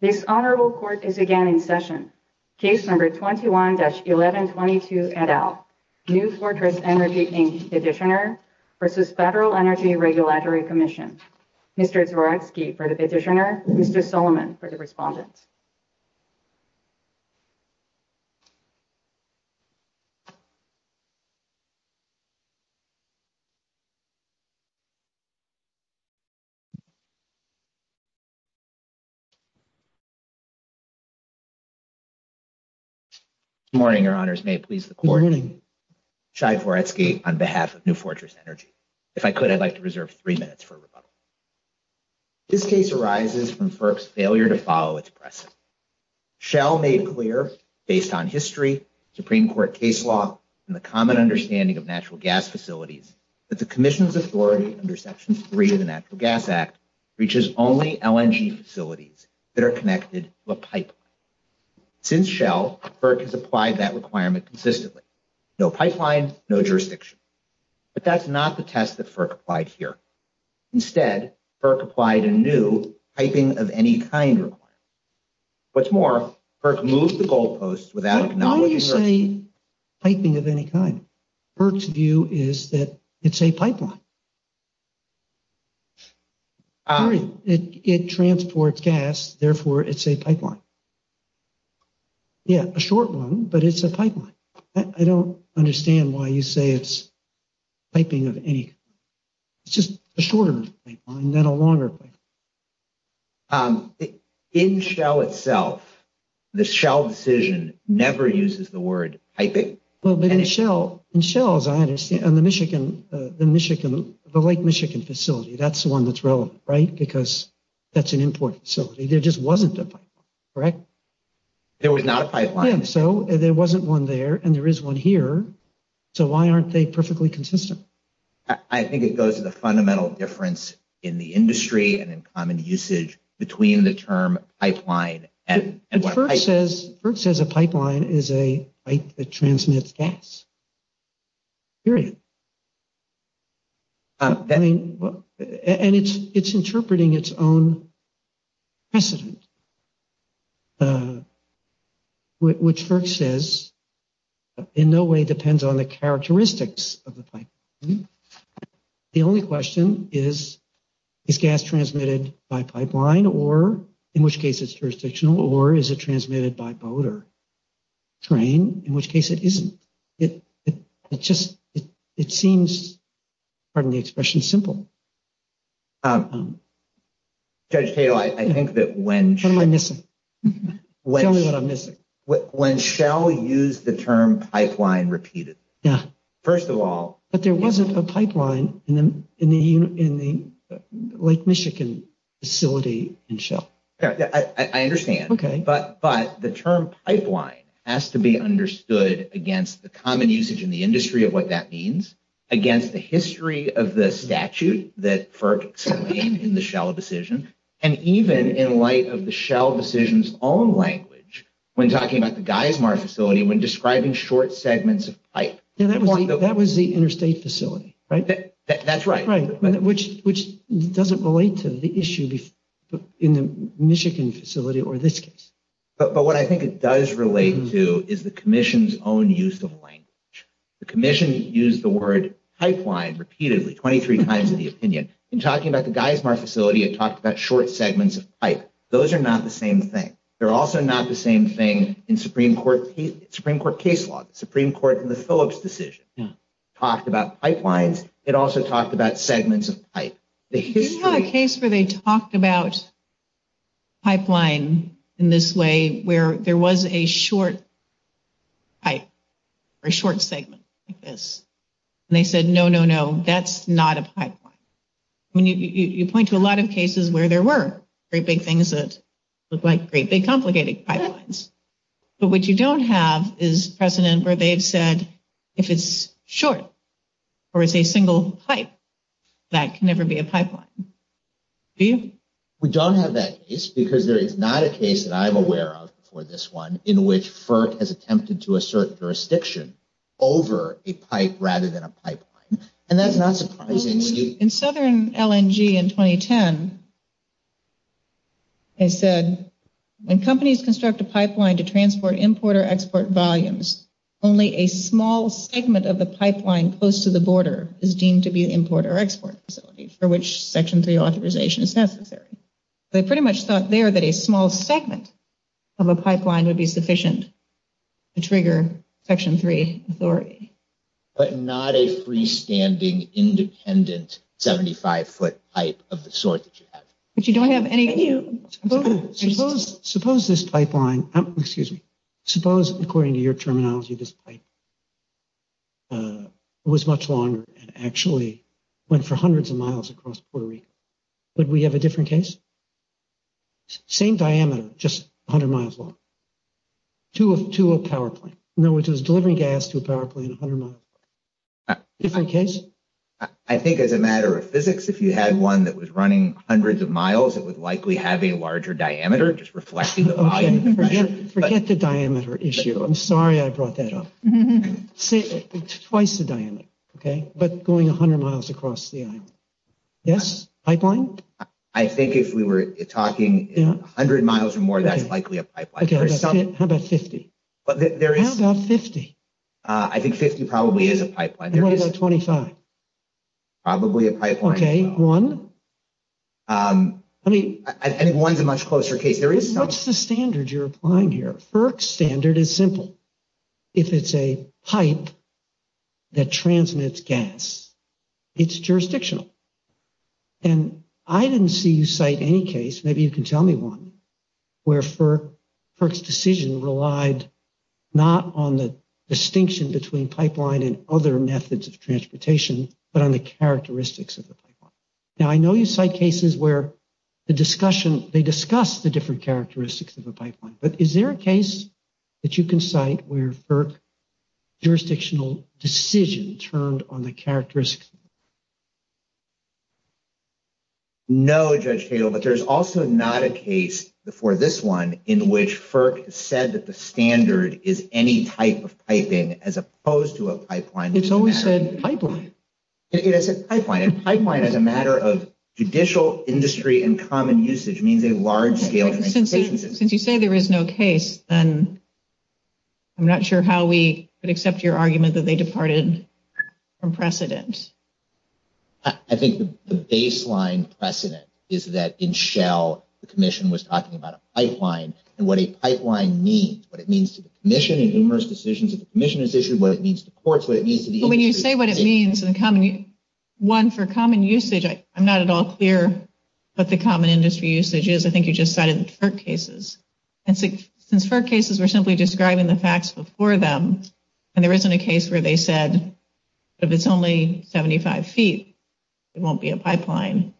This honorable court is again in session. Case number 21-1122-NL, New Fortress Energy Inc Petitioner v. Federal Energy Regulatory Commission. Mr. Zworecki for the petitioner, Mr. Solomon for the respondent. Good morning, your honors. May it please the court. Good morning. Shai Zworecki on behalf of New Fortress Energy. If I could, I'd like to reserve three minutes for rebuttal. This case arises from FERC's failure to follow its precedent. Shell made clear, based on history, Supreme Court case law, and the common understanding of natural gas facilities, that the commission's authority under Section 3 of the Natural Gas Act reaches only LNG facilities that are connected to a pipeline. Since Shell, FERC has applied that requirement consistently. No pipeline, no jurisdiction. But that's not the test that FERC applied here. Instead, FERC applied a new piping-of-any-kind requirement. What's more, FERC moved the goalposts without acknowledging... Why do you say piping-of-any-kind? FERC's view is that it's a pipeline. It transports gas, therefore it's a pipeline. Yeah, a short one, but it's a pipeline. I don't understand why you say it's piping-of-any-kind. It's just a shorter pipeline, not a longer pipeline. In Shell itself, the Shell decision never uses the word piping. In Shell, as I understand, and the Lake Michigan facility, that's the one that's relevant, right? Because that's an important facility. There just wasn't a pipeline, correct? There was not a pipeline. Yeah, so there wasn't one there, and there is one here. So why aren't they perfectly consistent? I think it goes to the fundamental difference in the industry and in common usage between the term pipeline and what piping... FERC says a pipeline is a pipe that transmits gas, period. And it's interpreting its own precedent, which FERC says in no way depends on the characteristics of the pipeline. The only question is, is gas transmitted by pipeline, or in which case it's jurisdictional, or is it transmitted by boat or train, in which case it isn't. It seems... Pardon the expression, simple. Judge Tatel, I think that when... What am I missing? Tell me what I'm missing. When Shell used the term pipeline repeated. First of all... But there wasn't a pipeline in the Lake Michigan facility in Shell. I understand. Okay. But the term pipeline has to be understood against the common usage in the industry of what that means, against the history of the statute that FERC explained in the Shell decision, and even in light of the Shell decision's own language when talking about the Geismar facility when describing short segments of pipe. That was the interstate facility, right? That's right. Right. Which doesn't relate to the issue in the Michigan facility or this case. But what I think it does relate to is the commission's own use of language. The commission used the word pipeline repeatedly, 23 times in the opinion. In talking about the Geismar facility, it talked about short segments of pipe. Those are not the same thing. They're also not the same thing in Supreme Court case law. The Supreme Court in the Phillips decision talked about pipelines. It also talked about segments of pipe. Isn't there a case where they talked about pipeline in this way, where there was a short pipe, or a short segment like this, and they said, no, no, no, that's not a pipeline? You point to a lot of cases where there were great big things that look like great big complicated pipelines, but what you don't have is precedent where they've said if it's short, or it's a single pipe, that can never be a pipeline, do you? We don't have that case because there is not a case that I'm aware of for this one in which FERC has attempted to assert jurisdiction over a pipe rather than a pipeline. And that's not surprising. In Southern LNG in 2010, they said, when companies construct a pipeline to transport import or export, a pipeline close to the border is deemed to be an import or export facility for which Section 3 authorization is necessary. They pretty much thought there that a small segment of a pipeline would be sufficient to trigger Section 3 authority. But not a freestanding independent 75-foot pipe of the sort that you have. But you don't have any... Suppose this pipeline, excuse me, suppose according to your terminology, this pipe was much longer and actually went for hundreds of miles across Puerto Rico. Would we have a different case? Same diameter, just a hundred miles long, to a power plant, no, which was delivering gas to a power plant a hundred miles long, different case? I think as a matter of physics, if you had one that was running hundreds of miles, it would likely have a larger diameter, just reflecting the volume of the pressure. Forget the diameter issue. I'm sorry I brought that up. Twice the diameter, okay? But going a hundred miles across the island. Yes? Pipeline? I think if we were talking a hundred miles or more, that's likely a pipeline. How about 50? How about 50? I think 50 probably is a pipeline. And what about 25? Probably a pipeline as well. Okay. One? I mean, I think one's a much closer case. What's the standard you're applying here? FERC's standard is simple. If it's a pipe that transmits gas, it's jurisdictional. And I didn't see you cite any case, maybe you can tell me one, where FERC's decision relied not on the distinction between pipeline and other methods of transportation, but on the characteristics of the pipeline. Now, I know you cite cases where the discussion, they discuss the different characteristics of a pipeline. But is there a case that you can cite where FERC jurisdictional decision turned on the characteristics? No, Judge Cato, but there's also not a case before this one in which FERC said that the standard is any type of piping as opposed to a pipeline. It's always said pipeline. It is a pipeline, and pipeline as a matter of judicial, industry, and common usage means a large scale transportation system. Since you say there is no case, then I'm not sure how we would accept your argument that they departed from precedent. I think the baseline precedent is that in Shell, the commission was talking about a pipeline and what a pipeline means, what it means to the commission and numerous decisions that the commission has issued, what it means to courts, what it means to the industry. But when you say what it means, one, for common usage, I'm not at all clear what the common industry usage is. I think you just cited the FERC cases. Since FERC cases were simply describing the facts before them, and there isn't a case where they said if it's only 75 feet, it won't be a pipeline,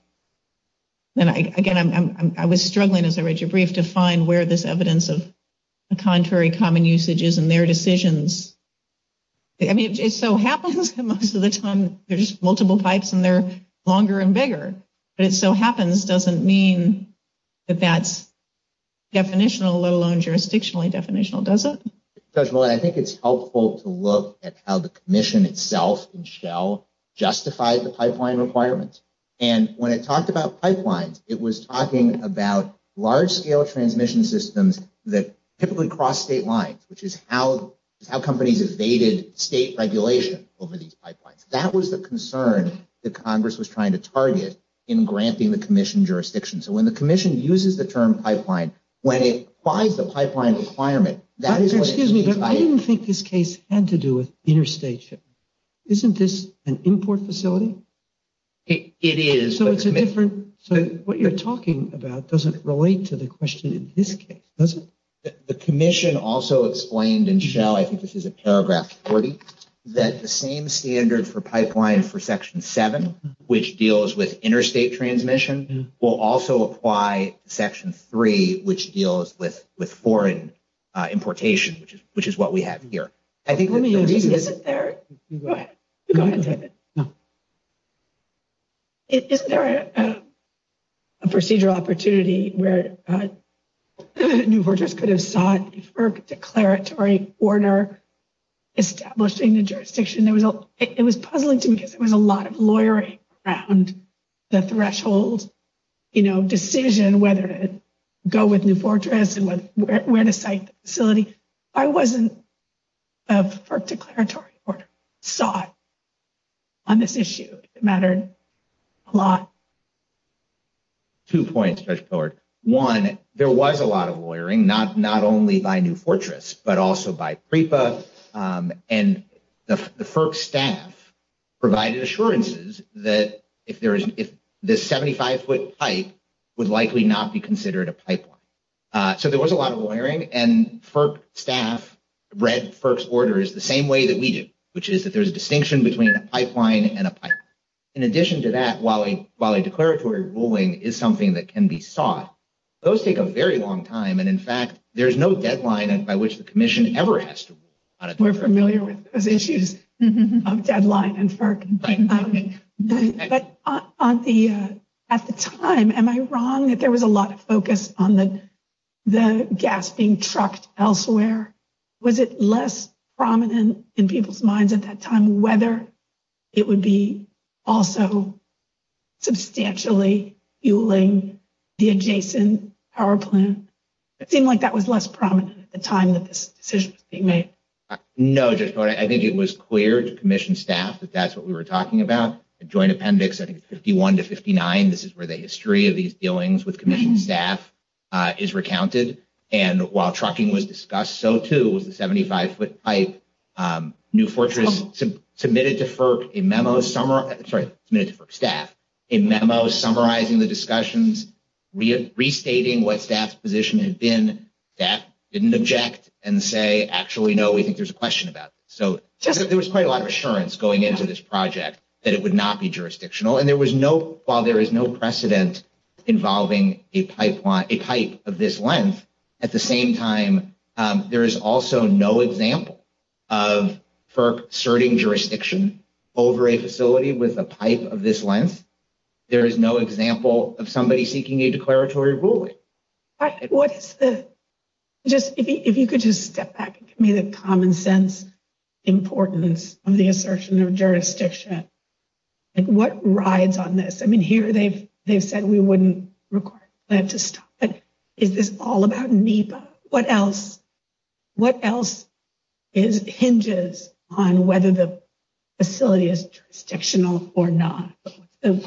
then again, I was struggling as I read your brief to find where this evidence of a contrary common usage is in their decisions. I mean, it so happens that most of the time there's multiple pipes and they're longer and bigger. But it so happens doesn't mean that that's definitional, let alone jurisdictionally definitional, does it? Judge, I think it's helpful to look at how the commission itself in Shell justified the pipeline requirements. And when it talked about pipelines, it was talking about large scale transmission systems that typically cross state lines, which is how companies evaded state regulation over these pipelines. That was the concern that Congress was trying to target in granting the commission jurisdiction. So when the commission uses the term pipeline, when it applies the pipeline requirement, that is what it means. Excuse me, but I didn't think this case had to do with interstate shipping. Isn't this an import facility? It is. So it's a different, so what you're talking about doesn't relate to the question in this case, does it? The commission also explained in Shell, I think this is a paragraph 40, that the same standard for pipeline for Section 7, which deals with interstate transmission, will also apply to Section 3, which deals with foreign importation, which is what we have here. I think the reason is... Go ahead. Go ahead, David. No. Isn't there a procedural opportunity where New Fortress could have sought a FERC declaratory order establishing the jurisdiction? It was puzzling to me because there was a lot of lawyering around the threshold decision whether to go with New Fortress and where to cite the facility. If I wasn't of FERC declaratory order, sought on this issue, it mattered a lot. Two points, Judge Pillard. One, there was a lot of lawyering, not only by New Fortress, but also by PREPA. And the FERC staff provided assurances that if the 75-foot pipe would likely not be considered a pipeline. So there was a lot of lawyering, and FERC staff read FERC's orders the same way that we do, which is that there's a distinction between a pipeline and a pipeline. In addition to that, while a declaratory ruling is something that can be sought, those take a very long time, and in fact, there's no deadline by which the Commission ever has to rule on it. We're familiar with those issues of deadline and FERC. But at the time, am I wrong that there was a lot of focus on the gas being trucked elsewhere? Was it less prominent in people's minds at that time whether it would be also substantially fueling the adjacent power plant? It seemed like that was less prominent at the time that this decision was being made. No, Judge Pillard. I think it was clear to Commission staff that that's what we were talking about. The joint appendix, I think it's 51 to 59, this is where the history of these dealings with Commission staff is recounted. And while trucking was discussed, so too was the 75-foot pipe. New Fortress submitted to FERC a memo summarizing the discussions, restating what staff's position had been. And then staff didn't object and say, actually, no, we think there's a question about this. So there was quite a lot of assurance going into this project that it would not be jurisdictional. And while there is no precedent involving a pipe of this length, at the same time, there is also no example of FERC asserting jurisdiction over a facility with a pipe of this length. There is no example of somebody seeking a declaratory ruling. If you could just step back and give me the common sense importance of the assertion of jurisdiction. What rides on this? I mean, here they've said we wouldn't require them to stop, but is this all about NEPA? What else hinges on whether the facility is jurisdictional or not?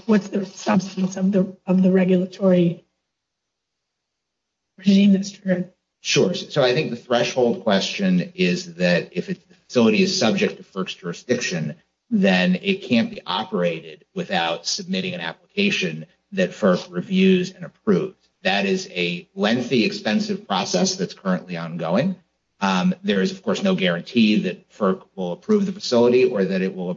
What's the substance of the regulatory regime that's triggered? Sure. So I think the threshold question is that if a facility is subject to FERC's jurisdiction, then it can't be operated without submitting an application that FERC reviews and approves. That is a lengthy, expensive process that's currently ongoing. There is, of course, no guarantee that FERC will approve the facility or that it will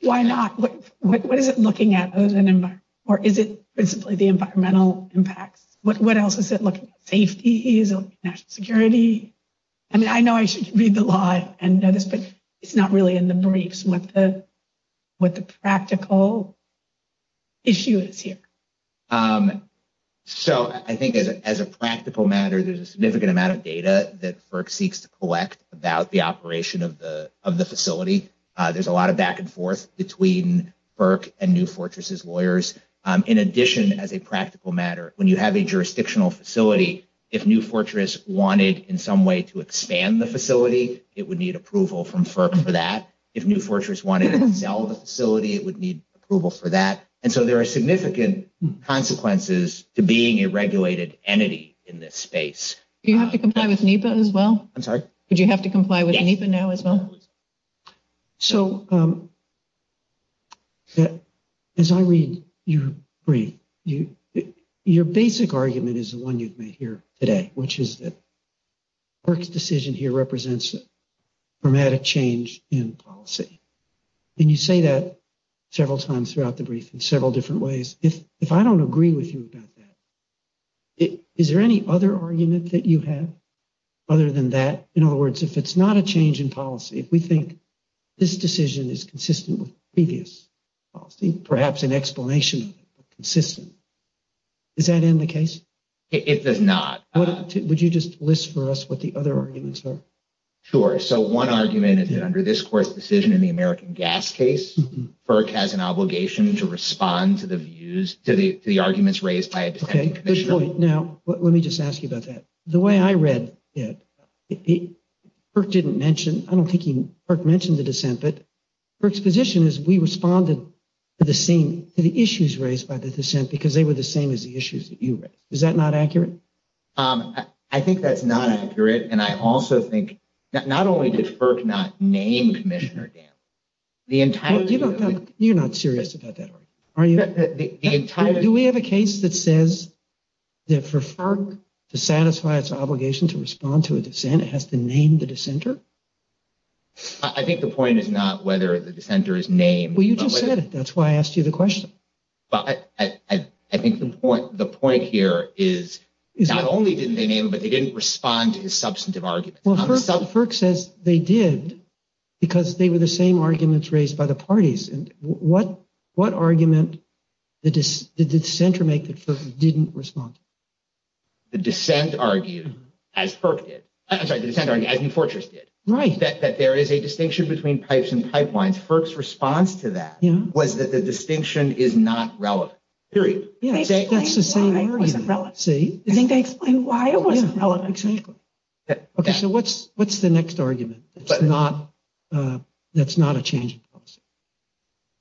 Why not? What is it looking at? Or is it principally the environmental impacts? What else is it looking at? Safety? National security? I mean, I know I should read the law and know this, but it's not really in the briefs what the practical issue is here. So I think as a practical matter, there's a significant amount of data that FERC seeks to collect about the operation of the facility. There's a lot of back and forth between FERC and New Fortress's lawyers. In addition, as a practical matter, when you have a jurisdictional facility, if New Fortress wanted in some way to expand the facility, it would need approval from FERC for that. If New Fortress wanted to sell the facility, it would need approval for that. And so there are significant consequences to being a regulated entity in this space. Do you have to comply with NEPA as well? I'm sorry? Would you have to comply with NEPA now as well? So as I read your brief, your basic argument is the one you've made here today, which is that FERC's decision here represents a dramatic change in policy. And you say that several times throughout the brief in several different ways. If I don't agree with you about that, is there any other argument that you have other than that? In other words, if it's not a change in policy, if we think this decision is consistent with previous policy, perhaps an explanation of it, consistent, does that end the case? It does not. Would you just list for us what the other arguments are? Sure. So one argument is that under this court's decision in the American Gas case, FERC has an obligation to respond to the views, to the arguments raised by a detective commissioner. Okay. Good point. Now, let me just ask you about that. The way I read it, FERC didn't mention, I don't think FERC mentioned the dissent, but FERC's position is we responded to the same, to the issues raised by the dissent because they were the same as the issues that you raised. Is that not accurate? I think that's not accurate. And I also think, not only did FERC not name Commissioner Dam, the entirety of it- You're not serious about that, are you? Do we have a case that says that for FERC to satisfy its obligation to respond to a dissent, it has to name the dissenter? I think the point is not whether the dissenter is named- Well, you just said it. That's why I asked you the question. I think the point here is not only didn't they name him, but they didn't respond to his substantive arguments. FERC says they did because they were the same arguments raised by the parties. What argument did the dissenter make that FERC didn't respond to? The dissent argued, as FERC did, I'm sorry, the dissenter argued, as New Fortress did, that there is a distinction between pipes and pipelines. FERC's response to that was that the distinction is not relevant, period. They explained why it wasn't relevant. See? I think they explained why it wasn't relevant. Exactly. Okay, so what's the next argument that's not a change in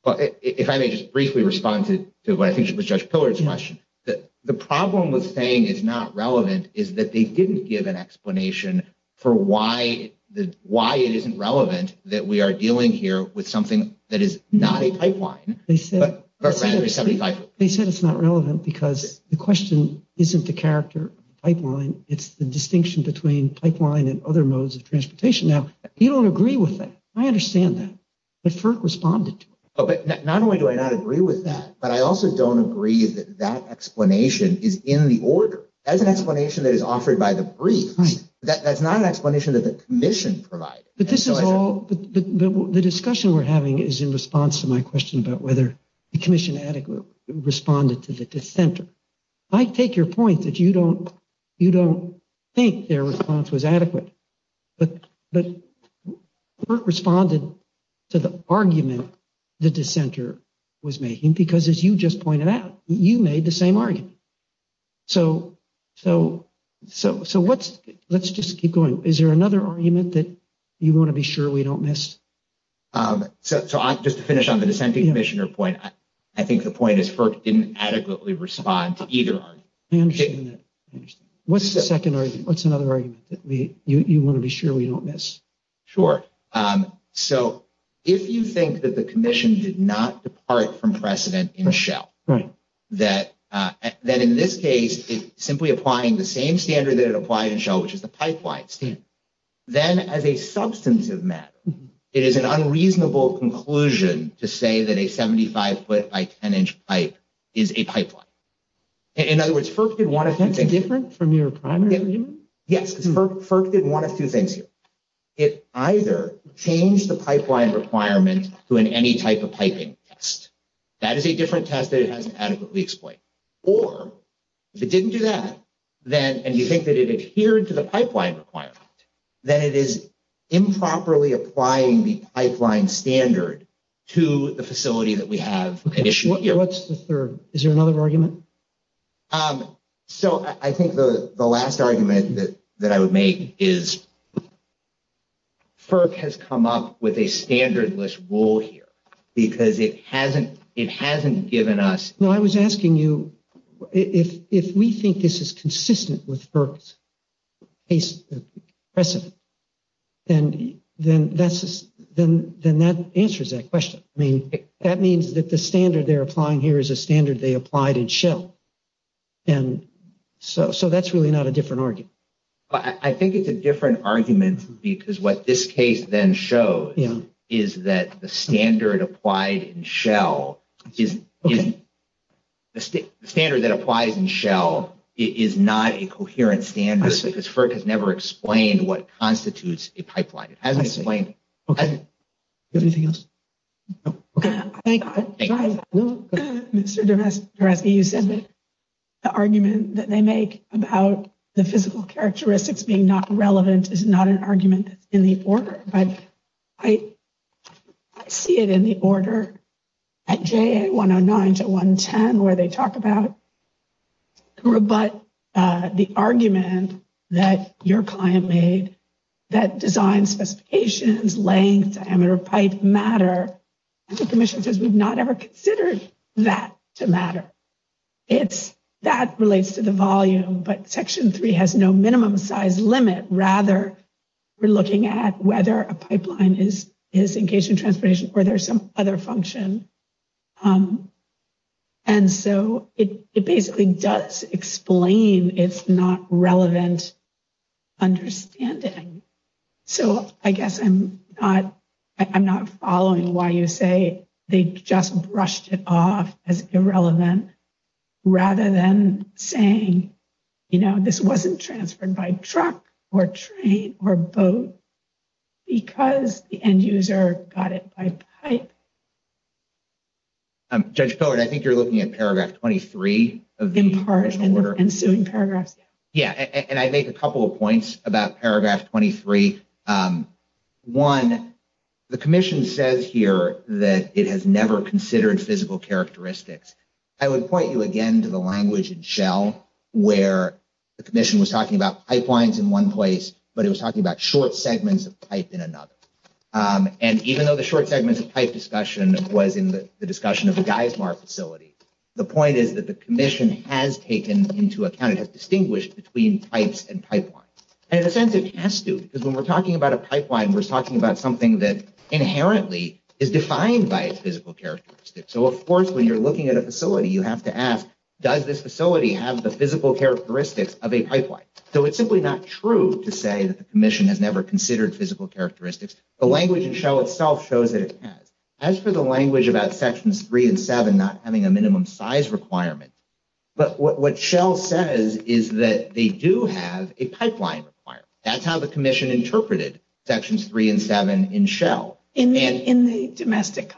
policy? If I may just briefly respond to what I think was Judge Pillard's question, that the problem with saying it's not relevant is that they didn't give an explanation for why it isn't relevant that we are dealing here with something that is not a pipeline, but rather a 75-foot pipe. They said it's not relevant because the question isn't the character of the pipeline, it's the distinction between pipeline and other modes of transportation. Now, you don't agree with that. I understand that. But FERC responded to it. Oh, but not only do I not agree with that, but I also don't agree that that explanation is in the order. That is an explanation that is offered by the briefs. That's not an explanation that the Commission provided. But this is all, the discussion we're having is in response to my question about whether the Commission adequately responded to the dissenter. I take your point that you don't think their response was adequate, but FERC responded to the argument the dissenter was making, because as you just pointed out, you made the same argument. So, let's just keep going. Is there another argument that you want to be sure we don't miss? So, just to finish on the dissenting Commissioner point, I think the point is FERC didn't adequately respond to either argument. I understand that. What's the second argument? What's another argument that you want to be sure we don't miss? Sure. So, if you think that the Commission did not depart from precedent in Shell, that in this case, simply applying the same standard that it applied in Shell, which is the pipeline standard, then as a substantive matter, it is an unreasonable conclusion to say that a 75-foot by 10-inch pipe is a pipeline. In other words, FERC did one of two things. That's different from your primary argument? Yes, because FERC did one of two things here. It either changed the pipeline requirement to an any-type-of-piping test. That is a different test that it hasn't adequately explained. Or, if it didn't do that, and you think that it adhered to the pipeline requirement, then it is improperly applying the pipeline standard to the facility that we have at issue here. What's the third? Is there another argument? So, I think the last argument that I would make is, FERC has come up with a standardless rule here, because it hasn't given us... No, I was asking you, if we think this is consistent with FERC's precedent, then that answers that question. That means that the standard they're applying here is a standard they applied in Shell. So, that's really not a different argument. I think it's a different argument, because what this case then shows is that the standard that applies in Shell is not a coherent standard, because FERC has never explained what constitutes a pipeline. It hasn't explained... Okay, do you have anything else? Okay. Mr. Doresky, you said that the argument that they make about the physical characteristics being not relevant is not an argument that's in the order, but I see it in the order at JA 109 to 110, where they talk about, but the argument that your client made, that design specifications, length, diameter of pipe matter, and the Commission says we've not ever considered that to matter. That relates to the volume, but Section 3 has no minimum size limit. Rather, we're looking at whether a pipeline is engaged in transportation or there's some other function. And so, it basically does explain it's not relevant understanding. So, I guess I'm not following why you say they just brushed it off as irrelevant, rather than saying, you know, this wasn't transferred by truck, or train, or boat, because the end user got it by pipe. Judge Pillard, I think you're looking at paragraph 23 of the original order. In part, and ensuing paragraphs, yeah. Yeah, and I make a couple of points about paragraph 23. One, the Commission says here that it has never considered physical characteristics. I would point you again to the language in Shell, where the Commission was talking about pipelines in one place, but it was talking about short segments of pipe in another. And even though the short segments of pipe discussion was in the discussion of the Geismar facility, the point is that the Commission has taken into account, it has distinguished between pipes and pipelines. And in a sense, it has to, because when we're talking about a pipeline, we're talking about something that inherently is defined by its physical characteristics. So, of course, when you're looking at a facility, you have to ask, does this facility have the physical characteristics of a pipeline? So, it's simply not true to say that the Commission has never considered physical characteristics. The language in Shell itself shows that it has. As for the language about Sections 3 and 7 not having a minimum size requirement, but what Shell says is that they do have a pipeline requirement. That's how the Commission interpreted Sections 3 and 7 in Shell. In the domestic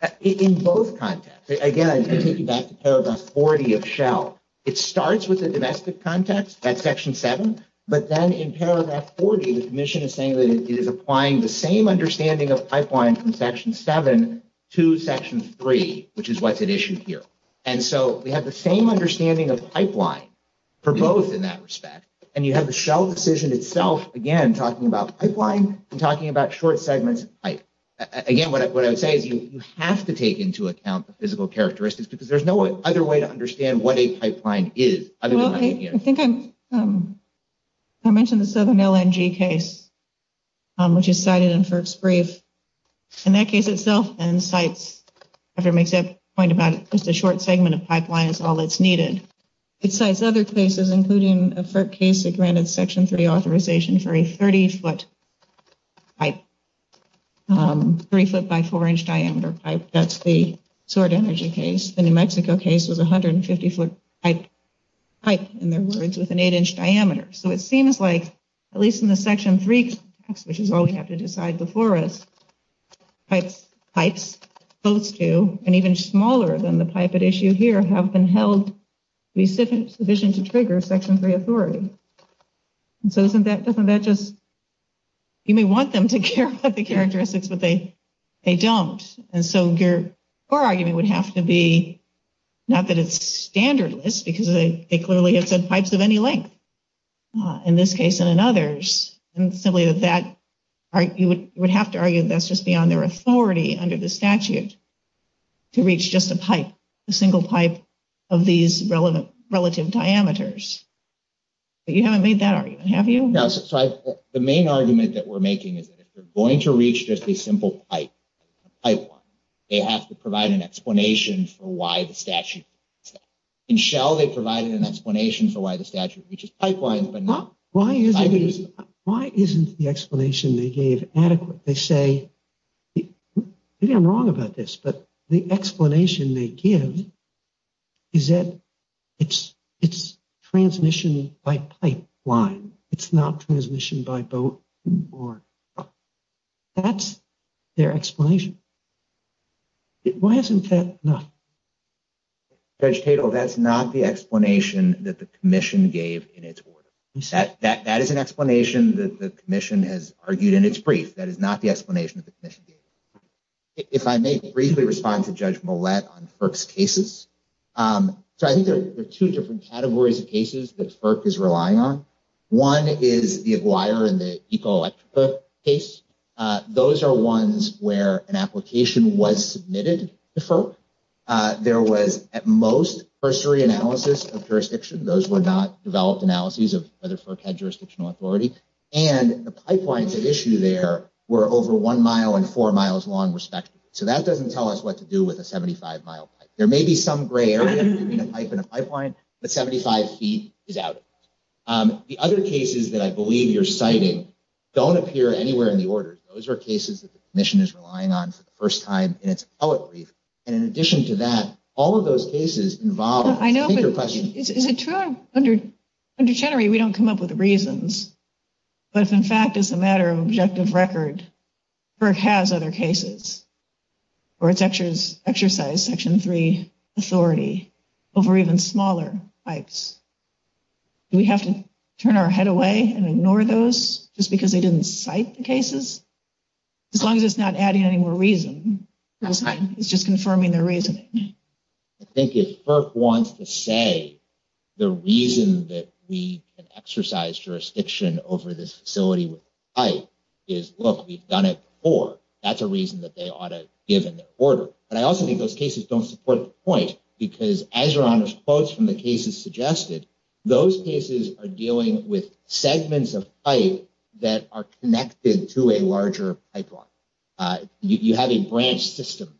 context? In both contexts. Again, I take you back to paragraph 40 of Shell. It starts with the domestic context at Section 7, but then in paragraph 40, the Commission is saying that it is applying the same understanding of pipeline from Section 7 to Section 3, which is what's at issue here. And so, we have the same understanding of pipeline for both in that respect. And you have the Shell decision itself, again, talking about pipeline and talking about short segments of pipe. Again, what I would say is you have to take into account the physical characteristics because there's no other way to understand what a pipeline is. I think I mentioned the Southern LNG case, which is cited in FERC's brief. And that case itself then cites, after it makes that point about just a short segment of pipeline is all that's needed, it cites other cases, including a FERC case that granted Section 3 authorization for a 30-foot pipe, 3-foot by 4-inch diameter pipe. That's the Sword Energy case. The New Mexico case was a 150-foot pipe, in their words, with an 8-inch diameter. So, it seems like, at least in the Section 3 context, which is all we have to decide before us, pipes close to, and even smaller than the pipe at issue here, have been held sufficient to trigger Section 3 authority. And so, doesn't that just – you may want them to care about the characteristics, but they don't. And so, your argument would have to be, not that it's standardless, because they clearly have said pipes of any length, in this case and in others, and simply that you would have to argue that's just beyond their authority under the statute to reach just a pipe, a single pipe of these relative diameters. But you haven't made that argument, have you? Yeah, so, the main argument that we're making is that if you're going to reach just a pipe line, they have to provide an explanation for why the statute does that. In Shell, they provided an explanation for why the statute reaches pipe lines, but not diameters of the pipe. Why isn't the explanation they gave adequate? They say – maybe I'm wrong about this, but the explanation they give is that it's transmission by pipe line. It's not transmission by boat or truck. That's their explanation. Why isn't that enough? Judge Tatel, that's not the explanation that the commission gave in its order. That is an explanation that the commission has argued in its brief. That is not the explanation that the commission gave. If I may briefly respond to Judge Millett on FERC's cases. So, I think there are two different categories of cases that FERC is relying on. One is the Aguirre and the Ecoelectric case. Those are ones where an application was submitted to FERC. There was, at most, cursory analysis of jurisdiction. Those were not developed analyses of whether FERC had jurisdictional authority. And the pipelines at issue there were over one mile and four miles long, respectively. So, that doesn't tell us what to do with a 75-mile pipe. There may be some gray area between a pipe and a pipeline, but 75 feet is out. The other cases that I believe you're citing don't appear anywhere in the order. Those are cases that the commission is relying on for the first time in its appellate brief. And in addition to that, all of those cases involve... I know, but is it true under Chenery, we don't come up with the reasons. But if, in fact, as a matter of objective record, FERC has other cases where it's exercised Section 3 authority over even smaller pipes. Do we have to turn our head away and ignore those just because they didn't cite the cases? As long as it's not adding any more reason. That's fine. It's just confirming their reasoning. I think if FERC wants to say the reason that we can exercise jurisdiction over this facility with a pipe is, look, we've done it before. That's a reason that they ought to give in their order. But I also think those cases don't support the point. Because as your honor's quotes from the cases suggested, those cases are dealing with segments of pipe that are connected to a larger pipeline. You have a branch system.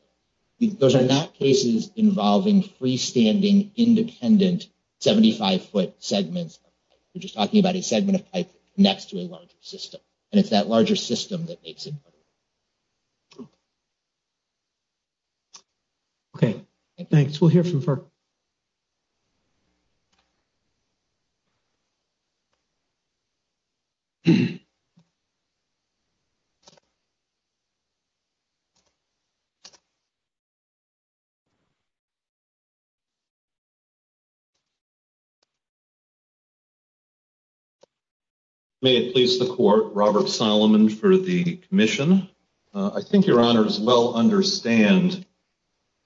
Those are not cases involving freestanding, independent, 75-foot segments. We're just talking about a segment of pipe that connects to a larger system. And it's that larger system that makes it. Okay, thanks. We'll hear from FERC. May it please the court, Robert Solomon for the commission. I think your honors well understand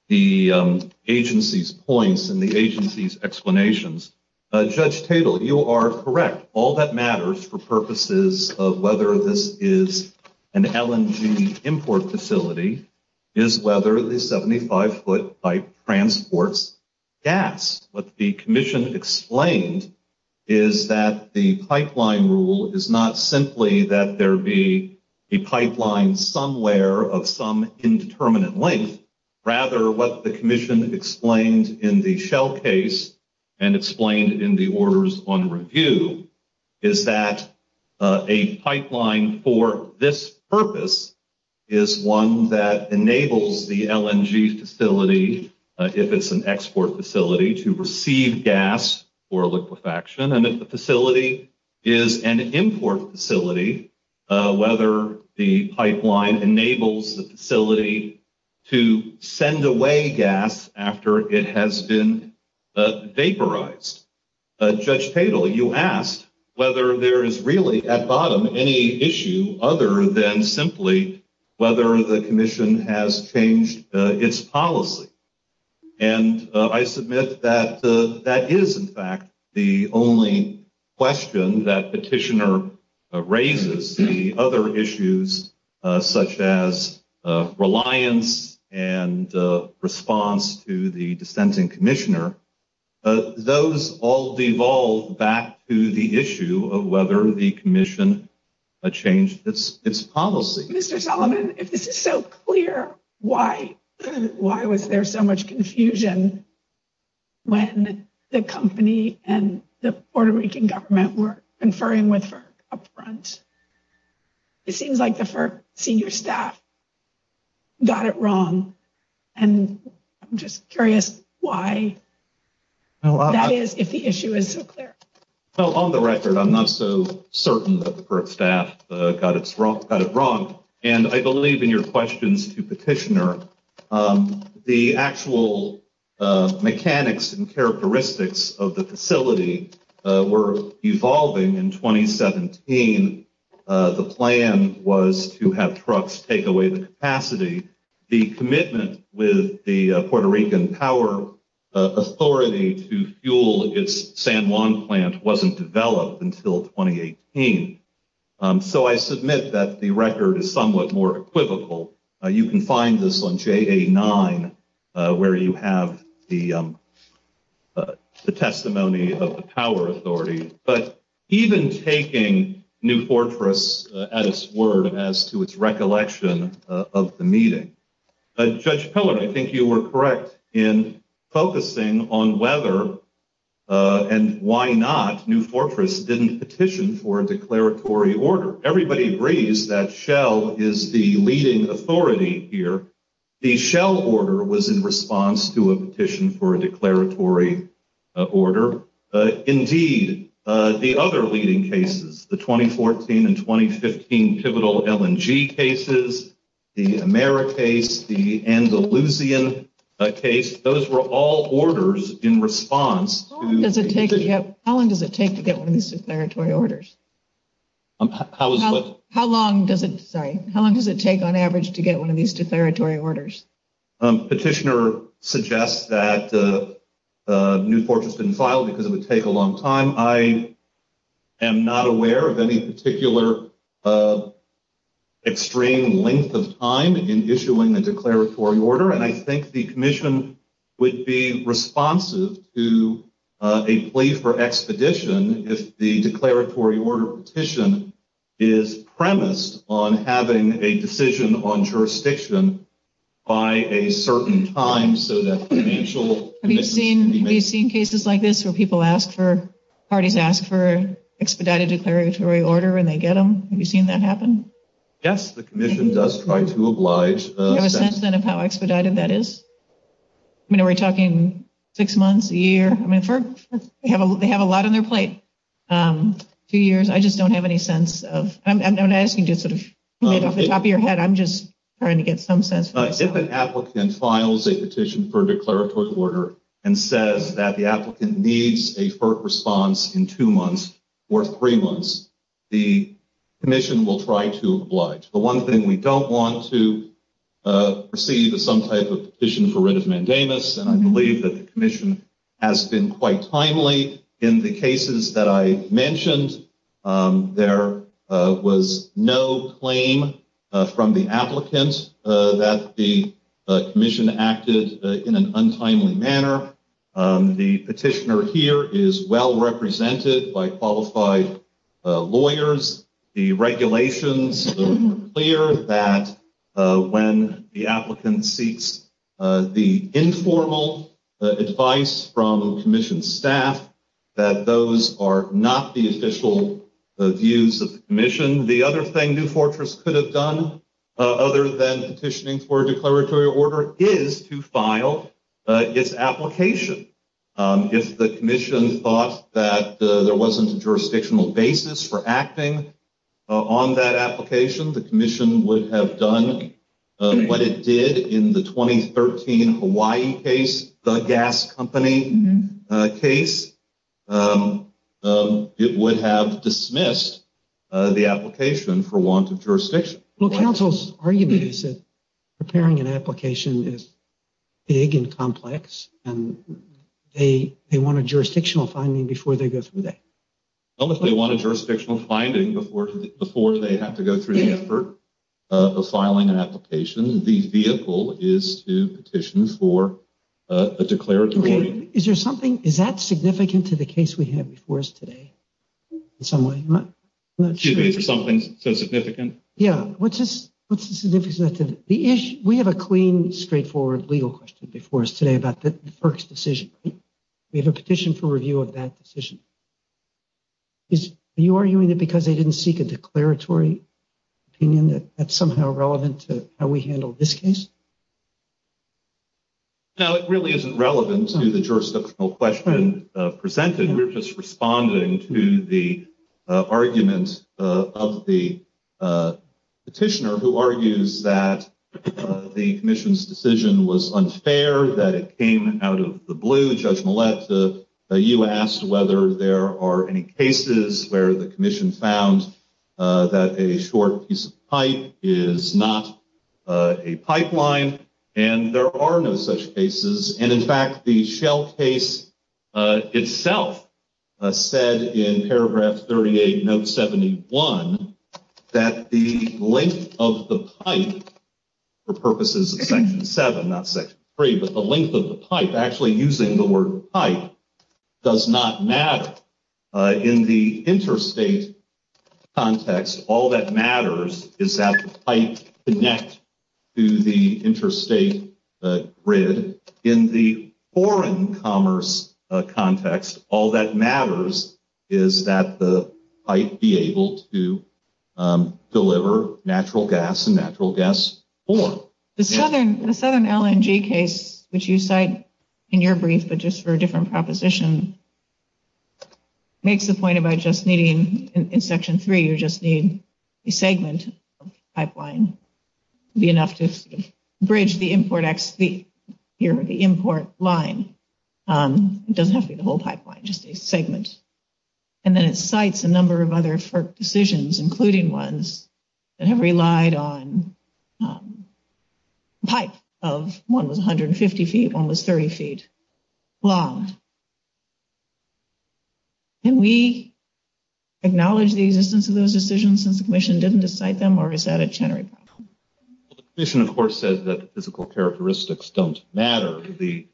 the agency's points and the agency's explanations. Judge Tatel, you are correct. All that matters for purposes of whether this is an LNG import facility is whether the 75-foot pipe transports gas. What the commission explained is that the pipeline rule is not simply that there be a pipeline somewhere of some indeterminate length. Rather, what the commission explained in the Shell case and explained in the orders on review is that a pipeline for this purpose is one that enables the LNG facility, if it's an export facility, to receive gas for liquefaction. And if the facility is an import facility, whether the pipeline enables the facility to send away gas after it has been vaporized. Judge Tatel, you asked whether there is really at bottom any issue other than simply whether the commission has changed its policy. And I submit that that is in fact the only question that petitioner raises. The other issues such as reliance and response to the dissenting commissioner, those all devolve back to the issue of whether the commission changed its policy. Mr. Solomon, if this is so clear, why was there so much confusion when the company and the Puerto Rican government were conferring with FERC up front? It seems like the FERC senior staff got it wrong. And I'm just curious why that is, if the issue is so clear. Well, on the record, I'm not so certain that the FERC staff got it wrong. And I believe in your questions to petitioner, the actual mechanics and characteristics of the facility were evolving in 2017. The plan was to have trucks take away the capacity. The commitment with the Puerto Rican power authority to fuel its San Juan plant wasn't developed until 2018. So I submit that the record is somewhat more equivocal. You can find this on JA-9, where you have the testimony of the power authority. But even taking New Fortress at its word as to its recollection of the meeting, Judge Pillard, I think you were correct in focusing on whether and why not New Fortress didn't petition for a declaratory order. Everybody agrees that Shell is the leading authority here. The Shell order was in response to a petition for a declaratory order. Indeed, the other leading cases, the 2014 and 2015 pivotal LNG cases, the AmeriCase, the Andalusian case, those were all orders in response. How long does it take to get one of these declaratory orders? How long does it take, on average, to get one of these declaratory orders? Petitioner suggests that New Fortress didn't file because it would take a long time. I am not aware of any particular extreme length of time in issuing a declaratory order. And I think the commission would be responsive to a plea for expedition if the declaratory order petition is premised on having a decision on jurisdiction by a certain time. Have you seen cases like this where people ask for, parties ask for expedited declaratory order and they get them? Have you seen that happen? Yes, the commission does try to oblige. Do you have a sense then of how expedited that is? I mean, are we talking six months, a year? They have a lot on their plate. Two years. I just don't have any sense of, I'm not asking to sort of get off the top of your head. I'm just trying to get some sense. But if an applicant files a petition for a declaratory order and says that the applicant needs a FERC response in two months or three months, the commission will try to oblige. The one thing we don't want to receive is some type of petition for writ of mandamus. And I believe that the commission has been quite timely. In the cases that I mentioned, there was no claim from the applicant that the commission acted in an untimely manner. The petitioner here is well represented by qualified lawyers. The regulations are clear that when the applicant seeks the informal advice from commission staff, that those are not the official views of the commission. The other thing New Fortress could have done, other than petitioning for a declaratory order, is to file its application. If the commission thought that there wasn't a jurisdictional basis for acting on that application, the commission would have done what it did in the 2013 Hawaii case, the gas company case. It would have dismissed the application for want of jurisdiction. Well, counsel's argument is that preparing an application is big and complex, and they want a jurisdictional finding before they go through that. Well, if they want a jurisdictional finding before they have to go through the effort of filing an application, the vehicle is to petition for a declaratory order. Is there something, is that significant to the case we have before us today in some way? I'm not sure. Excuse me, is there something so significant? Yeah, what's the significance of that? We have a clean, straightforward legal question before us today about the FERC's decision. We have a petition for review of that decision. Are you arguing that because they didn't seek a declaratory opinion that that's somehow relevant to how we handle this case? No, it really isn't relevant to the jurisdictional question presented. We're just responding to the argument of the petitioner who argues that the commission's decision was unfair, that it came out of the blue. Judge Millett, you asked whether there are any cases where the commission found that a short piece of pipe is not a pipeline, and there are no such cases. And, in fact, the Shell case itself said in paragraph 38, note 71, that the length of the pipe, for purposes of section 7, not section 3, but the length of the pipe, actually using the word pipe, does not matter. In the interstate context, all that matters is that the pipe connects to the interstate grid. In the foreign commerce context, all that matters is that the pipe be able to deliver natural gas and natural gas form. The Southern LNG case, which you cite in your brief, but just for a different proposition, makes the point about just needing, in section 3, you just need a segment of the pipeline to be enough to bridge the import line. It doesn't have to be the whole pipeline, just a segment. And then it cites a number of other FERC decisions, including ones that have relied on pipe of, one was 150 feet, one was 30 feet long. Can we acknowledge the existence of those decisions since the commission didn't cite them, or is that a generic problem? Well, the commission, of course, says that the physical characteristics don't matter. The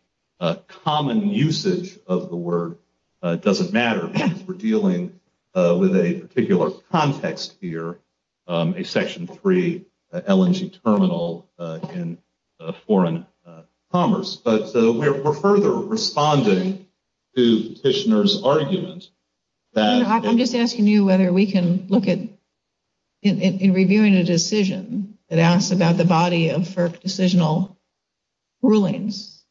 common usage of the word doesn't matter because we're dealing with a particular context here, a section 3 LNG terminal in foreign commerce. But we're further responding to the petitioner's argument that— So, if we're reviewing a decision that asks about the body of FERC decisional rulings,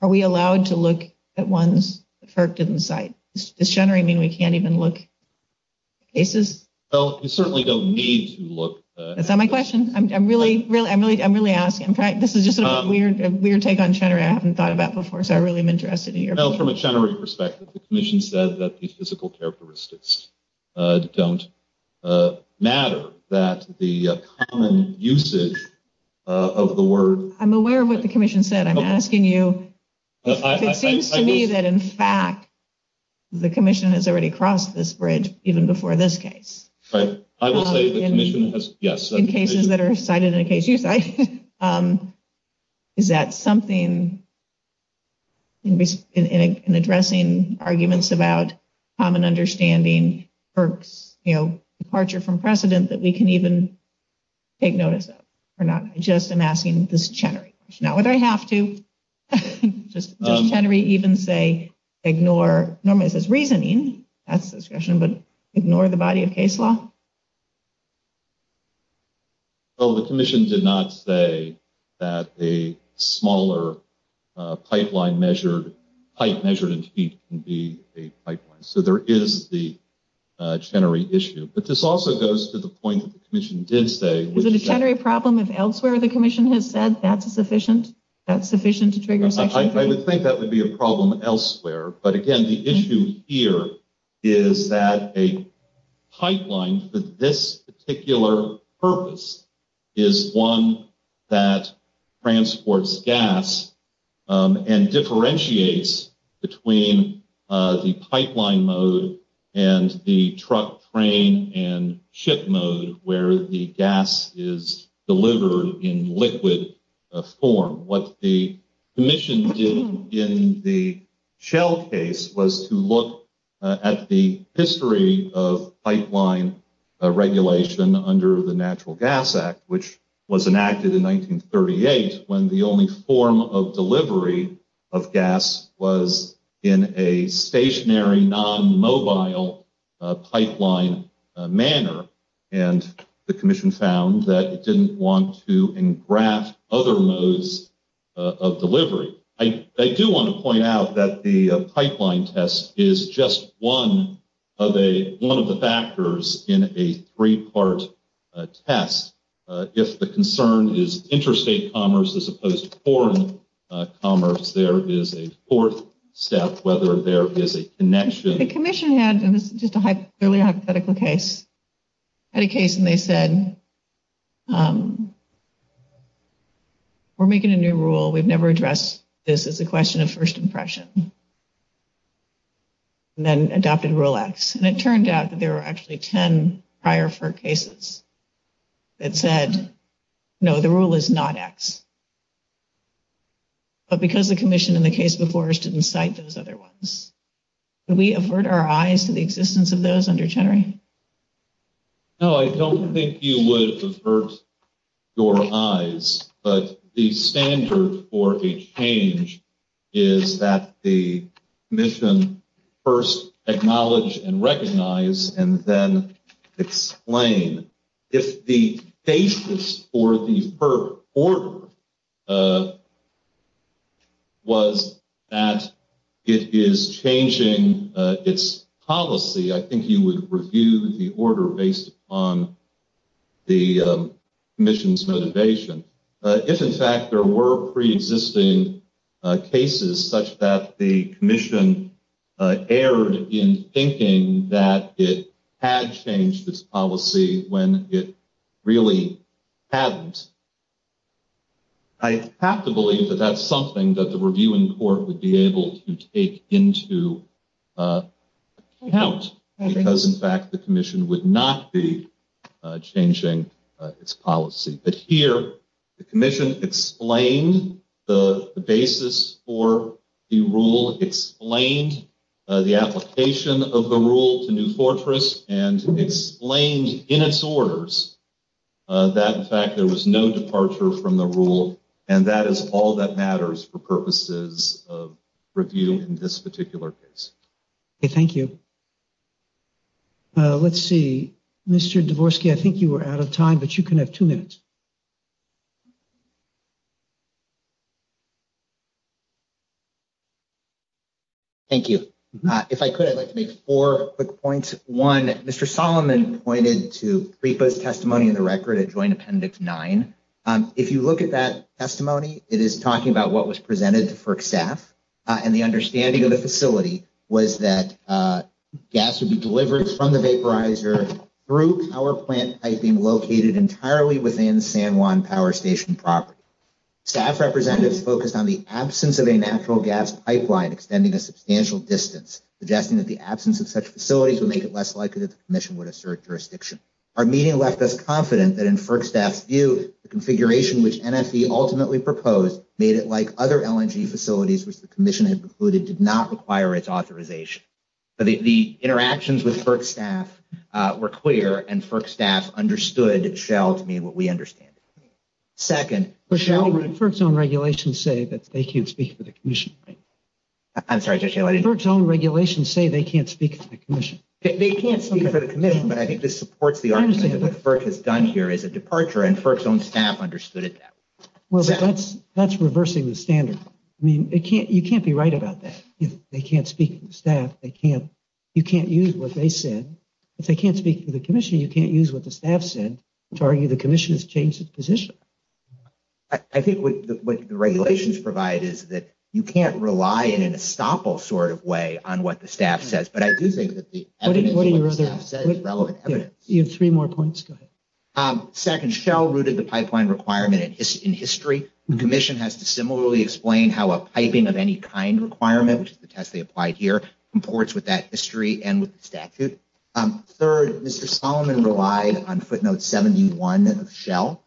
are we allowed to look at ones that FERC didn't cite? Does generic mean we can't even look at cases? Well, you certainly don't need to look— Is that my question? I'm really asking. This is just a weird take on generic I haven't thought about before, so I really am interested in your point. Well, from a generic perspective, the commission said that the physical characteristics don't matter, that the common usage of the word— I'm aware of what the commission said. I'm asking you if it seems to me that, in fact, the commission has already crossed this bridge even before this case. Right. I will say the commission has— In cases that are cited in a case you cite, is that something in addressing arguments about common understanding, FERC's departure from precedent that we can even take notice of or not? I just am asking this Chenery question. Now, would I have to, just Chenery, even say ignore— Normally, it says reasoning. That's discretion, but ignore the body of case law? Well, the commission did not say that a smaller pipe measured in feet can be a pipeline, so there is the Chenery issue, but this also goes to the point that the commission did say— Is it a Chenery problem if elsewhere the commission has said that's sufficient to trigger Section 3? I would think that would be a problem elsewhere, but again, the issue here is that a pipeline for this particular purpose is one that transports gas and differentiates between the pipeline mode and the truck, train, and ship mode where the gas is delivered in liquid form. What the commission did in the Shell case was to look at the history of pipeline regulation under the Natural Gas Act, which was enacted in 1938 when the only form of delivery of gas was in a stationary, non-mobile pipeline manner, and the commission found that it didn't want to engraft other modes of delivery. I do want to point out that the pipeline test is just one of the factors in a three-part test. If the concern is interstate commerce as opposed to foreign commerce, there is a fourth step whether there is a connection— This is just an earlier hypothetical case. I had a case and they said, we're making a new rule. We've never addressed this as a question of first impression, and then adopted Rule X. And it turned out that there were actually 10 prior FERC cases that said, no, the rule is not X. But because the commission in the case before us didn't cite those other ones, we avert our eyes to the existence of those under Chenery. No, I don't think you would avert your eyes. But the standard for a change is that the commission first acknowledge and recognize and then explain. If the basis for the FERC order was that it is changing its policy, I think you would review the order based on the commission's motivation. If, in fact, there were pre-existing cases such that the commission erred in thinking that it had changed its policy when it really hadn't, I have to believe that that's something that the review in court would be able to take into account because, in fact, the commission would not be changing its policy. But here, the commission explained the basis for the rule, explained the application of the rule to New Fortress, and explained in its orders that, in fact, there was no departure from the rule. And that is all that matters for purposes of review in this particular case. OK, thank you. Let's see. Mr. Dvorsky, I think you were out of time, but you can have two minutes. Thank you. If I could, I'd like to make four quick points. One, Mr. Solomon pointed to PREPA's testimony in the record at Joint Appendix 9. If you look at that testimony, it is talking about what was presented to FERC staff. And the understanding of the facility was that gas would be delivered from the vaporizer through power plant piping located entirely within San Juan Power Station property. Staff representatives focused on the absence of a natural gas pipeline extending a substantial distance, suggesting that the absence of such facilities would make it less likely that the commission would assert jurisdiction. Our meeting left us confident that, in FERC staff's view, the configuration which NFV ultimately proposed made it like other LNG facilities which the commission had concluded did not require its authorization. The interactions with FERC staff were clear, and FERC staff understood, shall to me, what we understand. Second, shall FERC's own regulations say that they can't speak for the commission? I'm sorry, Judge Haley. FERC's own regulations say they can't speak for the commission. They can't speak for the commission, but I think this supports the argument that what FERC has done here is a departure, and FERC's own staff understood it that way. Well, that's reversing the standard. I mean, you can't be right about that. If they can't speak for the staff, you can't use what they said. If they can't speak for the commission, you can't use what the staff said to argue the commission has changed its position. I think what the regulations provide is that you can't rely in an estoppel sort of way on what the staff says. But I do think that the evidence of what the staff says is relevant evidence. You have three more points. Go ahead. Second, shall rooted the pipeline requirement in history? The commission has to similarly explain how a piping of any kind requirement, which is the test they applied here, comports with that history and with the statute. Third, Mr. Solomon relied on footnote 71 of Shell.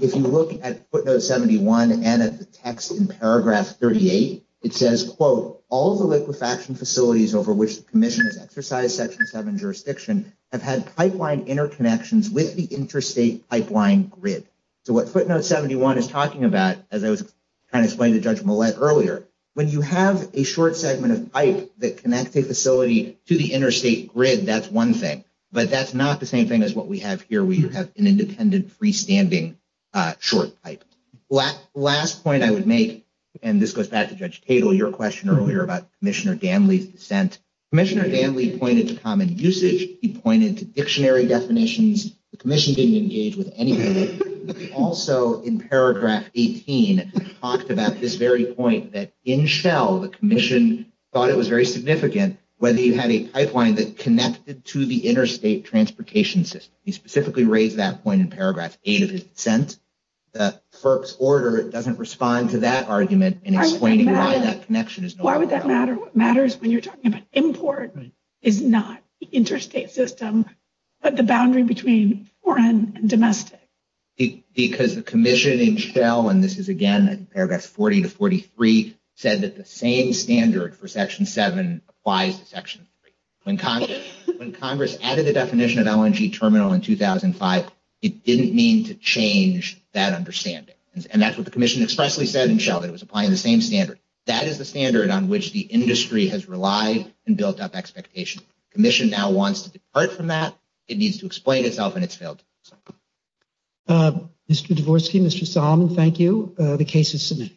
If you look at footnote 71 and at the text in paragraph 38, it says, quote, all of the liquefaction facilities over which the commission has exercised section 7 jurisdiction have had pipeline interconnections with the interstate pipeline grid. So what footnote 71 is talking about, as I was trying to explain to Judge Millett earlier, when you have a short segment of pipe that connects a facility to the interstate grid, that's one thing. But that's not the same thing as what we have here. We have an independent freestanding short pipe. Last point I would make, and this goes back to Judge Tatel, your question earlier about Commissioner Danley's dissent. Commissioner Danley pointed to common usage. He pointed to dictionary definitions. The commission didn't engage with any of it. But he also, in paragraph 18, talked about this very point that in Shell, the commission thought it was very significant whether you had a pipeline that connected to the interstate transportation system. He specifically raised that point in paragraph 8 of his dissent. The FERC's order doesn't respond to that argument in explaining why that connection is no longer valid. Why would that matter? What matters when you're talking about import is not the interstate system, but the boundary between foreign and domestic. Because the commission in Shell, and this is again in paragraphs 40 to 43, said that the same standard for section 7 applies to section 3. When Congress added the definition of LNG terminal in 2005, it didn't mean to change that understanding. And that's what the commission expressly said in Shell, that it was applying the same standard. That is the standard on which the industry has relied and built up expectations. The commission now wants to depart from that. It needs to explain itself and it's failed. Mr. Dvorsky, Mr. Solomon, thank you. The case is submitted.